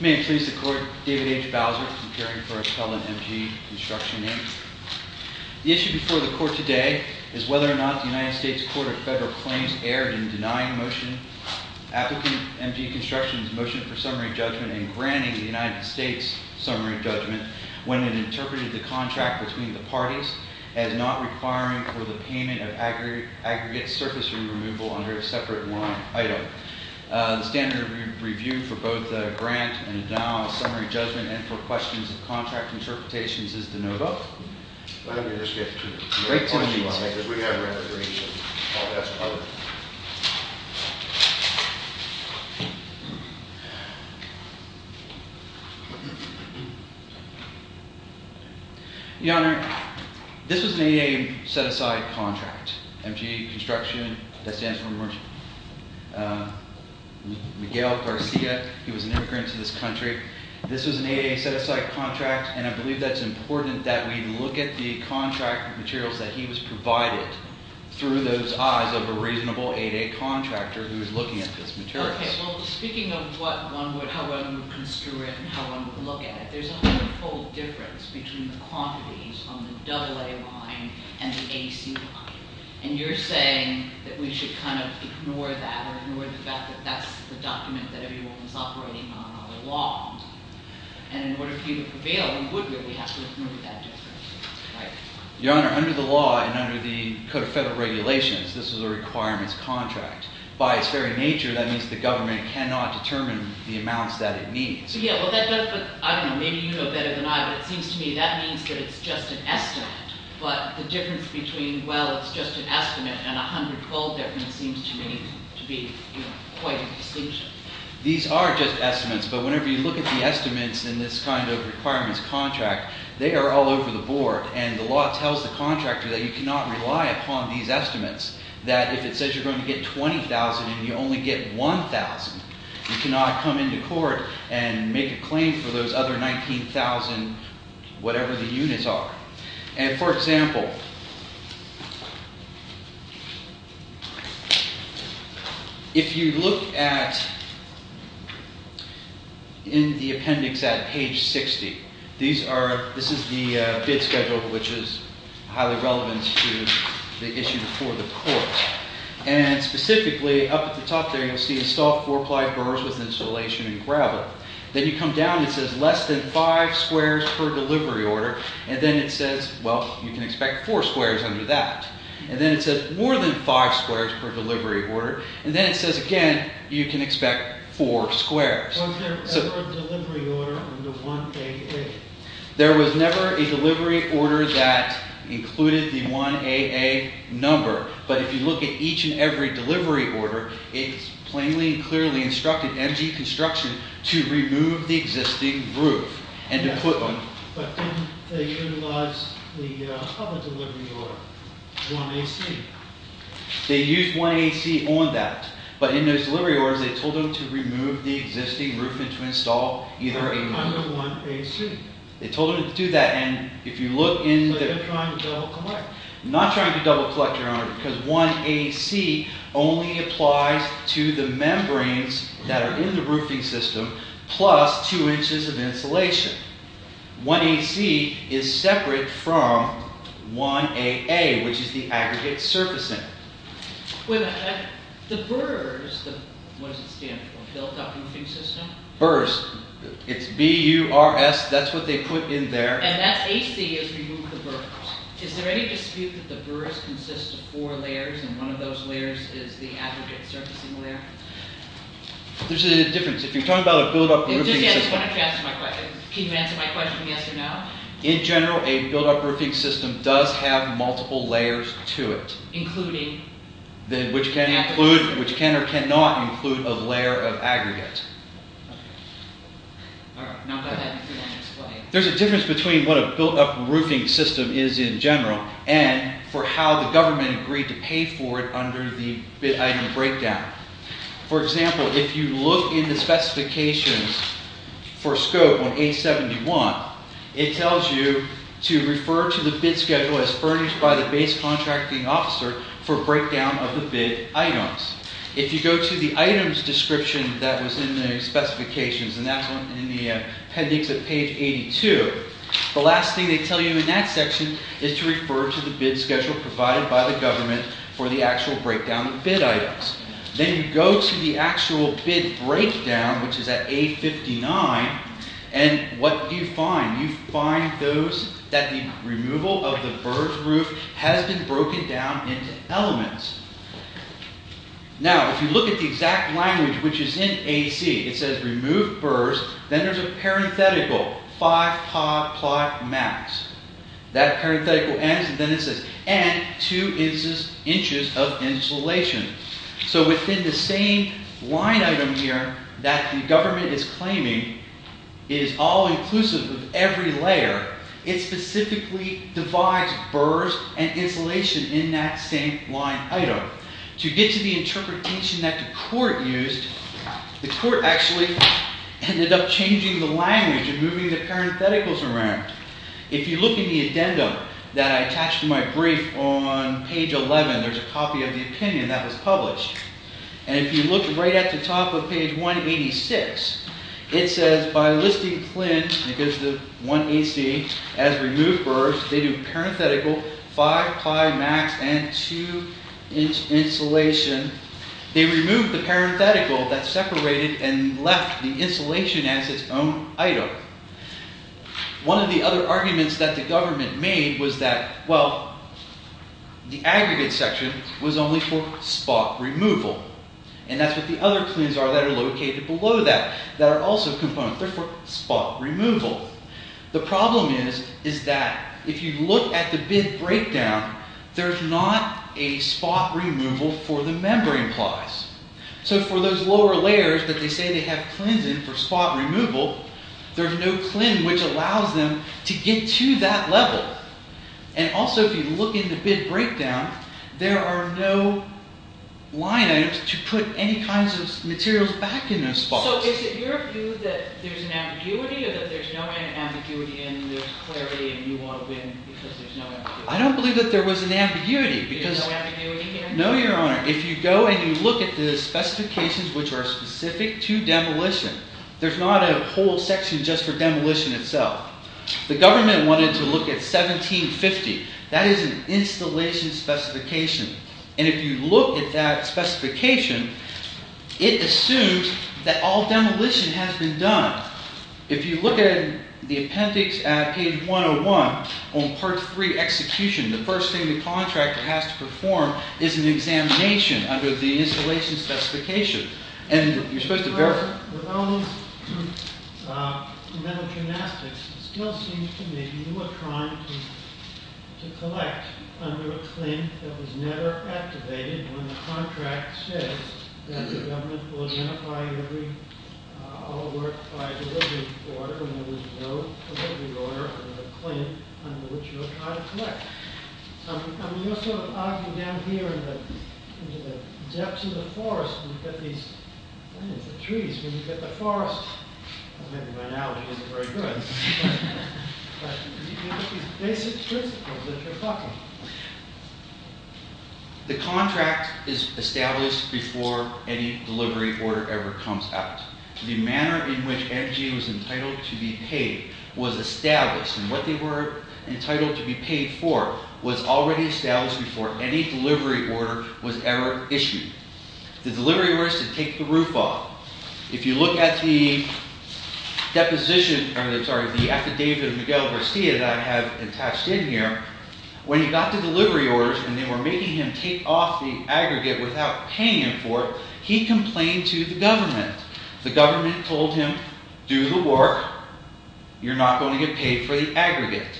May it please the Court, David H. Bowser, appearing for appellant M. G. Construction v. Navy. The issue before the Court today is whether or not the United States Court of Federal Claims erred in denying applicant M. G. Construction's motion for summary judgment and granting the United States summary judgment when it interpreted the contract between the as not requiring for the payment of aggregate surface removal under a separate line item. The standard review for both grant and denial of summary judgment and for questions of contract interpretations is de novo. Your Honor, this was an 8-8-8 set-aside contract. M. G. Construction, that stands for Miguel Garcia, he was an immigrant to this country. This was an 8-8-8 set-aside contract and I believe he was provided through those eyes of a reasonable 8-8-8 contractor who was looking at this material. Okay, well, speaking of how one would construe it and how one would look at it, there's a hundredfold difference between the quantities on the AA line and the AC line and you're saying that we should kind of ignore that or ignore the fact that that's the document that everyone's operating on on the law and in order for you to prevail, you would really have to ignore that difference, right? Your Honor, under the law and under the Code of Federal Regulations, this is a requirements contract. By its very nature, that means the government cannot determine the amounts that it needs. Yeah, well, that does, but I don't know, maybe you know better than I, but it seems to me that means that it's just an estimate, but the difference between, well, it's just an estimate and a hundredfold difference seems to me to be quite a distinction. These are just estimates, but whenever you look at the estimates in this kind of requirements contract, they are all over the board and the law tells the contractor that you cannot rely upon these estimates, that if it says you're going to get $20,000 and you only get $1,000, you cannot come into court and make a claim for those other $19,000, whatever the units are. And for example, if you look at, in the appendix at page 60, these are, this is the bid schedule which is highly relevant to the issue before the court. And specifically, up at the top there, you'll see install four-ply burrs with insulation and gravel. Then you come down and it says less than five squares per delivery order and then it says, well, you can expect four squares under that. And then it says more than five squares per delivery order and then it says again, you can expect four squares. Was there ever a delivery order under 1AA? There was never a delivery order that included the 1AA number, but if you look at each and clearly instructed MG Construction to remove the existing roof and to put one. But didn't they utilize the public delivery order, 1AC? They used 1AC on that, but in those delivery orders, they told them to remove the existing roof and to install either a... Under 1AC. They told them to do that and if you look in the... So they're trying to double collect. Not trying to double collect, Your Honor, because 1AC only applies to the membranes that are in the roofing system plus two inches of insulation. 1AC is separate from 1AA, which is the aggregate surfacing. Wait a minute. The burrs, what does it stand for? Built-up roofing system? Burrs. It's B-U-R-S. That's what they put in there. And that's AC is remove the burrs. Is there any dispute that the burrs consist of four layers and one of those layers is the aggregate surfacing layer? There's a difference. If you're talking about a built-up roofing system... Just answer my question. Can you answer my question yes or no? In general, a built-up roofing system does have multiple layers to it. Including? Which can or cannot include a layer of aggregate. All right. Now go ahead and explain. There's a difference between what a built-up roofing system is in general and for how the government agreed to pay for it under the bid item breakdown. For example, if you look in the specifications for scope on A71, it tells you to refer to the bid schedule as furnished by the base contracting officer for breakdown of the bid items. If you go to the items description that was in the specifications, and that's in the appendix of page 82, the last thing they tell you in that section is to refer to the bid schedule provided by the government for the actual breakdown of bid items. Then you go to the actual bid breakdown, which is at A59, and what do you find? You find that the removal of the burrs roof has been broken down into elements. Now, if you look at the exact language, which is in AC, it says remove burrs. Then there's a parenthetical, 5 plot max. That parenthetical ends, and then it says, and 2 inches of insulation. So within the same line item here that the government is claiming is all inclusive of every layer, it specifically divides burrs and insulation in that same line item. To get to the interpretation that the court used, the court actually ended up changing the language and moving the parentheticals around. If you look at the addendum that I attached to my brief on page 11, there's a copy of the opinion that was published. If you look right at the top of page 186, it says by listing CLIN, because 1AC has removed burrs, they do parenthetical, 5 plot max, and 2 inch insulation. They removed the parenthetical that separated and left the insulation as its own item. One of the other arguments that the government made was that, well, the aggregate section was only for spot removal. And that's what the other CLINs are that are located below that, that are also components. They're for spot removal. The problem is that if you look at the bid breakdown, there's not a spot removal for the membrane plies. So for those lower layers that they say they have CLINs in for spot removal, there's no CLIN which allows them to get to that level. And also if you look in the bid breakdown, there are no line items to put any kinds of materials back in those spots. So is it your view that there's an ambiguity, or that there's no ambiguity and there's clarity and you want to win because there's no ambiguity? I don't believe that there was an ambiguity. There's no ambiguity here? No, Your Honor. If you go and you look at the specifications which are specific to demolition, there's not a whole section just for demolition itself. The government wanted to look at 1750. That is an installation specification. And if you look at that specification, it assumes that all demolition has been done. If you look at the appendix at page 101 on part 3, execution, the first thing the contractor has to perform is an examination under the installation specification. And you're supposed to verify. Your Honor, with all these mental gymnastics, it still seems to me you are trying to collect under a CLIN that was never activated when the contract says that the government will identify all work by delivery order when there was no delivery order under the CLIN under which you are trying to collect. I mean, you're sort of arguing down here into the depths of the forest when you've got these trees, when you've got the forest. Maybe by now it isn't very good. But you've got these basic principles that you're talking. The contract is established before any delivery order ever comes out. The manner in which energy was entitled to be paid was established. And what they were entitled to be paid for was already established before any delivery order was ever issued. The delivery order is to take the roof off. If you look at the affidavit of Miguel Garcia that I have attached in here, when he got the delivery orders, and they were making him take off the aggregate without paying him for it, he complained to the government. The government told him, do the work. You're not going to get paid for the aggregate.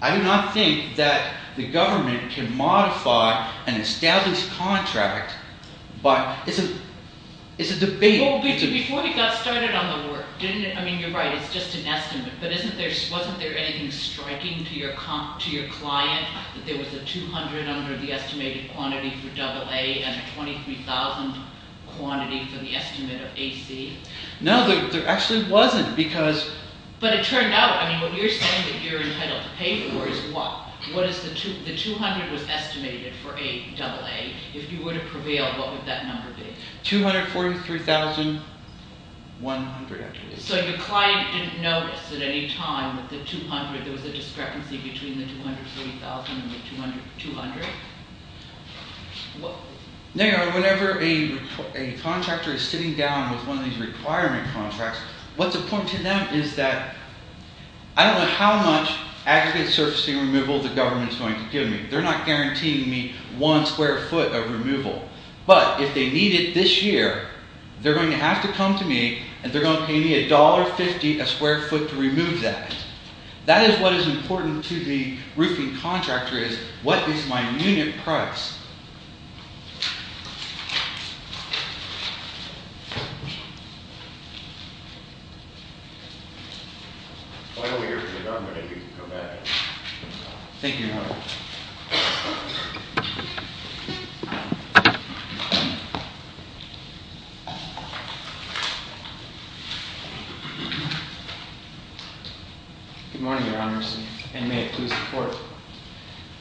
I do not think that the government can modify an established contract by... it's a debate. Well, before he got started on the work, didn't it... I mean, you're right, it's just an estimate. But wasn't there anything striking to your client that there was a 200 under the estimated quantity for AA and a 23,000 quantity for the estimate of AC? No, there actually wasn't, because... But it turned out, I mean, what you're saying that you're entitled to pay for is what? The 200 was estimated for AA. If you were to prevail, what would that number be? 243,100. So your client didn't notice at any time that there was a discrepancy between the 230,000 and the 200? No, whenever a contractor is sitting down with one of these requirement contracts, what's important to them is that... I don't know how much aggregate surfacing removal the government is going to give me. They're not guaranteeing me one square foot of removal. But if they need it this year, they're going to have to come to me and they're going to pay me $1.50 a square foot to remove that. That is what is important to the roofing contractor is, what is my unit price? Thank you, Your Honor. Good morning, Your Honors, and may it please the Court.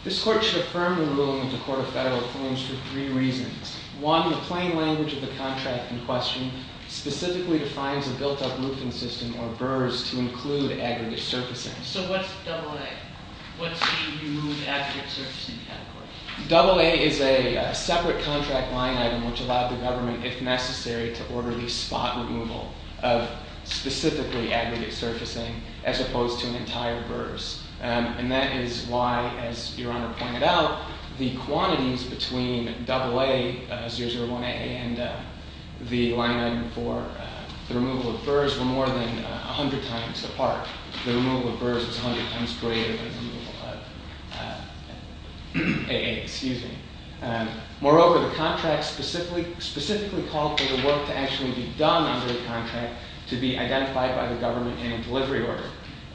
This Court should affirm the ruling of the Court of Federal Claims for three reasons. One, the plain language of the contract in question specifically defines a built-up roofing system or BRRS to include aggregate surfacing. So what's AA? What's the removed aggregate surfacing category? AA is a separate contract line item which allowed the government, if necessary, to order the spot removal. of specifically aggregate surfacing as opposed to an entire BRRS. And that is why, as Your Honor pointed out, the quantities between AA, 001A, and the line item four, the removal of BRRS, were more than 100 times the part. The removal of BRRS was 100 times greater than the removal of AA. Moreover, the contract specifically called for the work to actually be done under the contract to be identified by the government in a delivery order.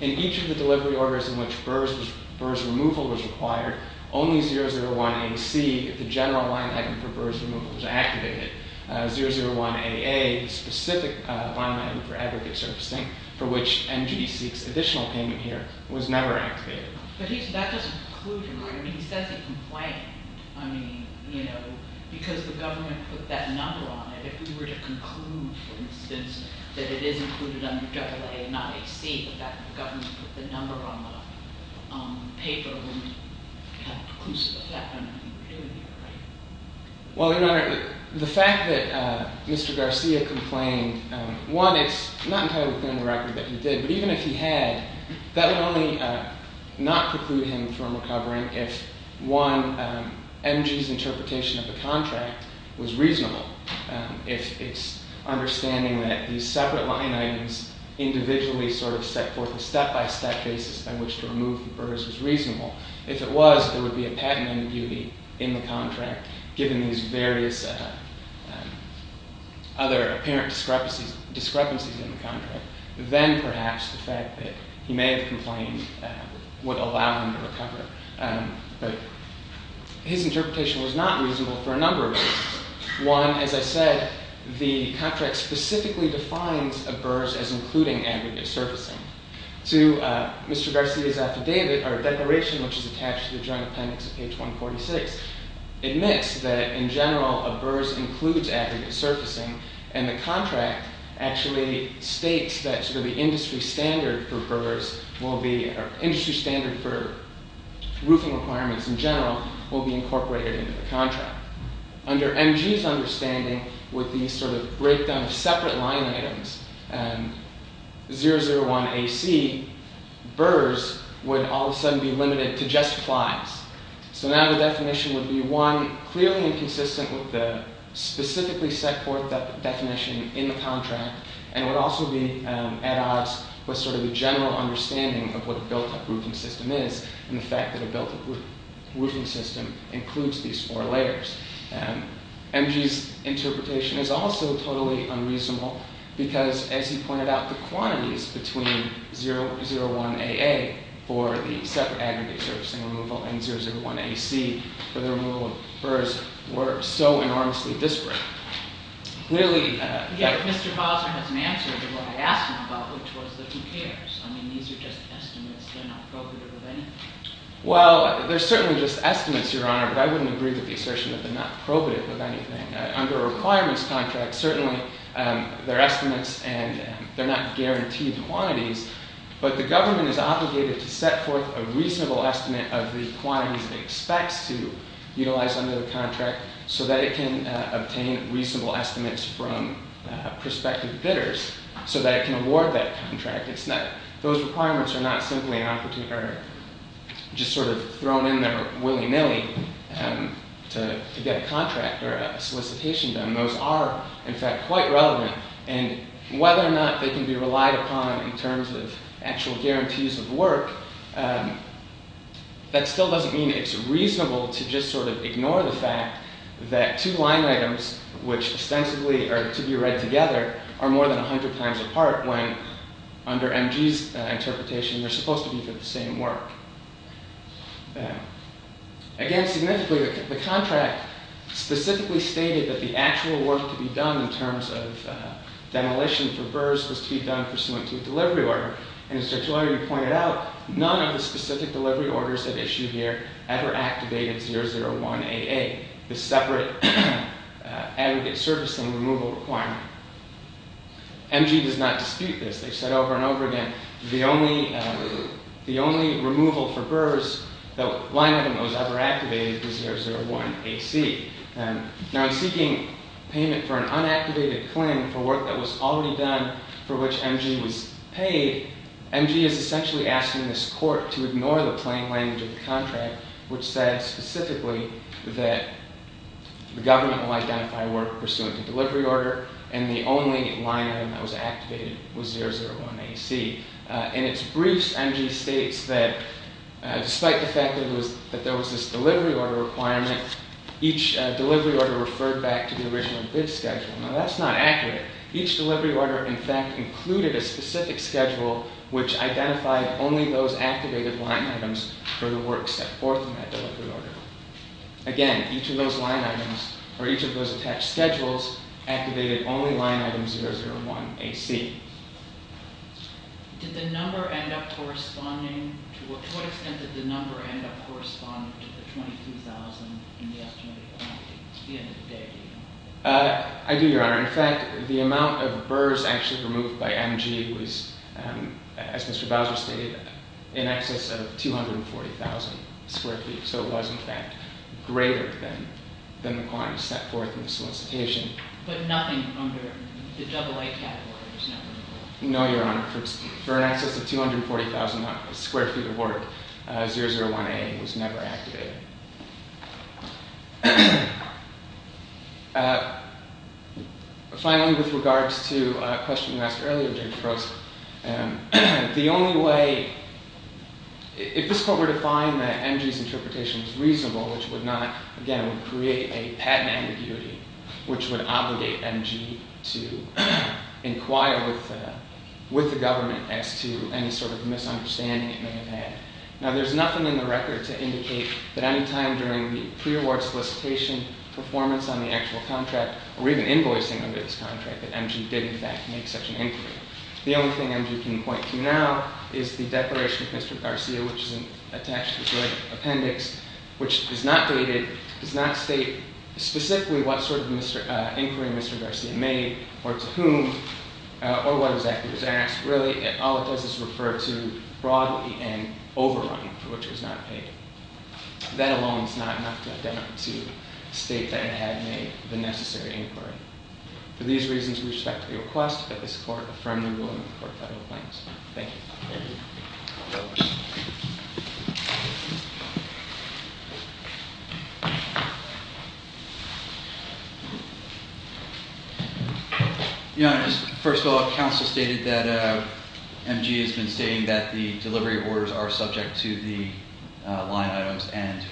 In each of the delivery orders in which BRRS removal was required, only 001A-C, the general line item for BRRS removal, was activated. 001A-A, the specific line item for aggregate surfacing, for which NGDC's additional payment here was never activated. But that doesn't conclude your argument. He says it confided. I mean, you know, because the government put that number on it. If we were to conclude, for instance, that it is included under AA and not AC, the fact that the government put the number on the paper wouldn't have conclusive effect on what we were doing here, right? Well, Your Honor, the fact that Mr. Garcia complained, one, it's not entirely clear on the record that he did, but even if he had, that would only not preclude him from recovering if one, MG's interpretation of the contract was reasonable. If it's understanding that these separate line items individually sort of set forth a step-by-step basis by which to remove the BRRS was reasonable. If it was, there would be a patent ambiguity in the contract, given these various other apparent discrepancies in the contract. Then, perhaps, the fact that he may have complained would allow him to recover. But his interpretation was not reasonable for a number of reasons. One, as I said, the contract specifically defines a BRRS as including aggregate surfacing. Two, Mr. Garcia's affidavit or declaration, which is attached to the Joint Appendix of page 146, admits that, in general, a BRRS includes aggregate surfacing, and the contract actually states that the industry standard for BRRS will be, or industry standard for roofing requirements in general, will be incorporated into the contract. Under MG's understanding, with the sort of breakdown of separate line items, 001AC, BRRS would all of a sudden be limited to just flies. So now the definition would be, one, clearly inconsistent with the specifically set forth definition in the contract, and it would also be at odds with sort of the general understanding of what a built-up roofing system is, and the fact that a built-up roofing system includes these four layers. MG's interpretation is also totally unreasonable because, as he pointed out, the quantities between 001AA for the separate aggregate surfacing removal and 001AC for the removal of BRRS were so enormously disparate. Clearly- I forget if Mr. Bowser has an answer to what I asked him about, which was that he cares. I mean, these are just estimates. They're not probative of anything. Well, they're certainly just estimates, Your Honor, but I wouldn't agree with the assertion that they're not probative of anything. Under a requirements contract, certainly, they're estimates and they're not guaranteed quantities, but the government is obligated to set forth a reasonable estimate of the quantities it expects to utilize under the contract so that it can obtain reasonable estimates from prospective bidders so that it can award that contract. Those requirements are not simply just sort of thrown in there willy-nilly to get a contract or a solicitation done. Those are, in fact, quite relevant, and whether or not they can be relied upon in terms of actual guarantees of work, that still doesn't mean it's reasonable to just sort of ignore the fact that two line items, which ostensibly are to be read together, are more than 100 times apart when, under MG's interpretation, they're supposed to be for the same work. Again, significantly, the contract specifically stated that the actual work to be done in terms of demolition for BRRS was to be done pursuant to a delivery order, and it's actually already pointed out none of the specific delivery orders at issue here ever activated 001AA, the separate aggregate servicing removal requirement. MG does not dispute this. They've said over and over again the only removal for BRRS, the line item that was ever activated, was 001AC. Now, in seeking payment for an unactivated claim for work that was already done for which MG was paid, MG is essentially asking this court to ignore the plain language of the contract, which says specifically that the government will identify work pursuant to delivery order, and the only line item that was activated was 001AC. In its briefs, MG states that despite the fact that there was this delivery order requirement, each delivery order referred back to the original bid schedule. Now, that's not accurate. Each delivery order, in fact, included a specific schedule which identified only those activated line items for the work set forth in that delivery order. Again, each of those line items, or each of those attached schedules, activated only line item 001AC. Did the number end up corresponding? To what extent did the number end up corresponding to the 22,000 in the estimated quantity? At the end of the day, do you know? I do, Your Honor. In fact, the amount of BRRS actually removed by MG was, as Mr. Bowser stated, in excess of 240,000 square feet. So it was, in fact, greater than the requirements set forth in the solicitation. But nothing under the double A category was never removed? No, Your Honor. For an excess of 240,000 square feet of work, 001A was never activated. Finally, with regards to a question you asked earlier, Judge Frost, the only way – if this court were to find that MG's interpretation was reasonable, which would not, again, create a patent ambiguity, which would obligate MG to inquire with the government as to any sort of misunderstanding it may have had. Now, there's nothing in the record to indicate that any time during the pre-award solicitation performance on the actual contract, or even invoicing under this contract, that MG did, in fact, make such an inquiry. The only thing MG can point to now is the declaration of Mr. Garcia, which is attached to the appendix, which is not dated, does not state specifically what sort of inquiry Mr. Garcia made, or to whom, or what exactly was asked. Really, all it does is refer to broadly and overrun, for which it was not paid. That alone is not enough to have done to state that it had made the necessary inquiry. For these reasons, we respect the request that this court affirm the ruling in the court of federal claims. Thank you. Your Honor, first of all, counsel stated that MG has been stating that the delivery orders are subject to the line items, and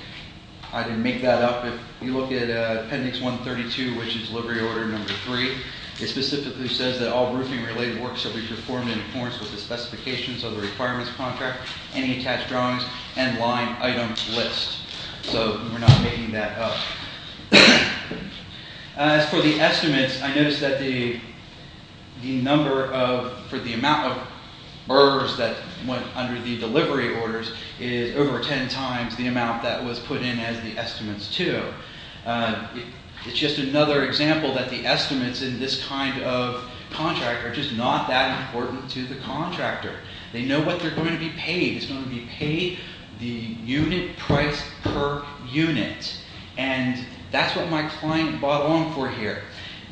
I can make that up. If you look at appendix 132, which is delivery order number three, it specifically says that all roofing-related works shall be performed in accordance with the specifications of the requirements contract, any attached drawings, and line item list. So we're not making that up. As for the estimates, I noticed that the number of, for the amount of burrs that went under the delivery orders is over ten times the amount that was put in as the estimates, too. It's just another example that the estimates in this kind of contract are just not that important to the contractor. They know what they're going to be paid. It's going to be paid the unit price per unit, and that's what my client bought along for here.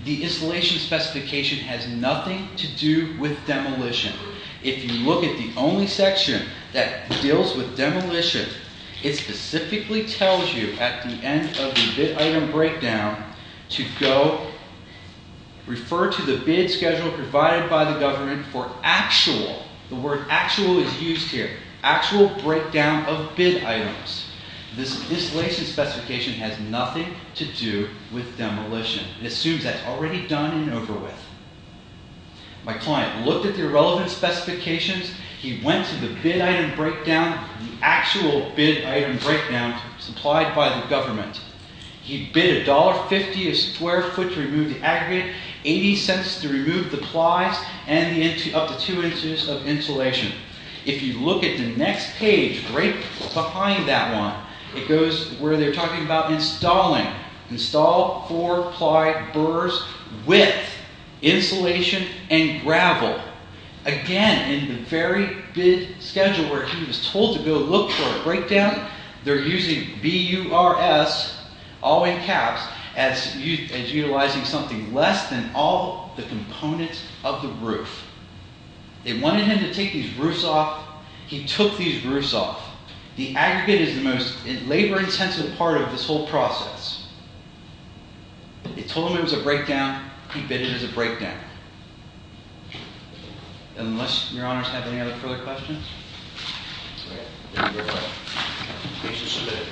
The installation specification has nothing to do with demolition. If you look at the only section that deals with demolition, it specifically tells you at the end of the bid item breakdown to go refer to the bid schedule provided by the government for actual, the word actual is used here, actual breakdown of bid items. This installation specification has nothing to do with demolition. It assumes that's already done and over with. My client looked at the relevant specifications. He went to the bid item breakdown, the actual bid item breakdown supplied by the government. He bid $1.50 a square foot to remove the aggregate, $0.80 to remove the plies, and up to two inches of insulation. If you look at the next page right behind that one, it goes where they're talking about installing, install four ply burrs with insulation and gravel. Again, in the very bid schedule where he was told to go look for a breakdown, they're using B-U-R-S, all in caps, as utilizing something less than all the components of the roof. They wanted him to take these roofs off. He took these roofs off. The aggregate is the most labor-intensive part of this whole process. They told him it was a breakdown. He bid it as a breakdown. Unless your honors have any other further questions. Thank you very much. Case is submitted.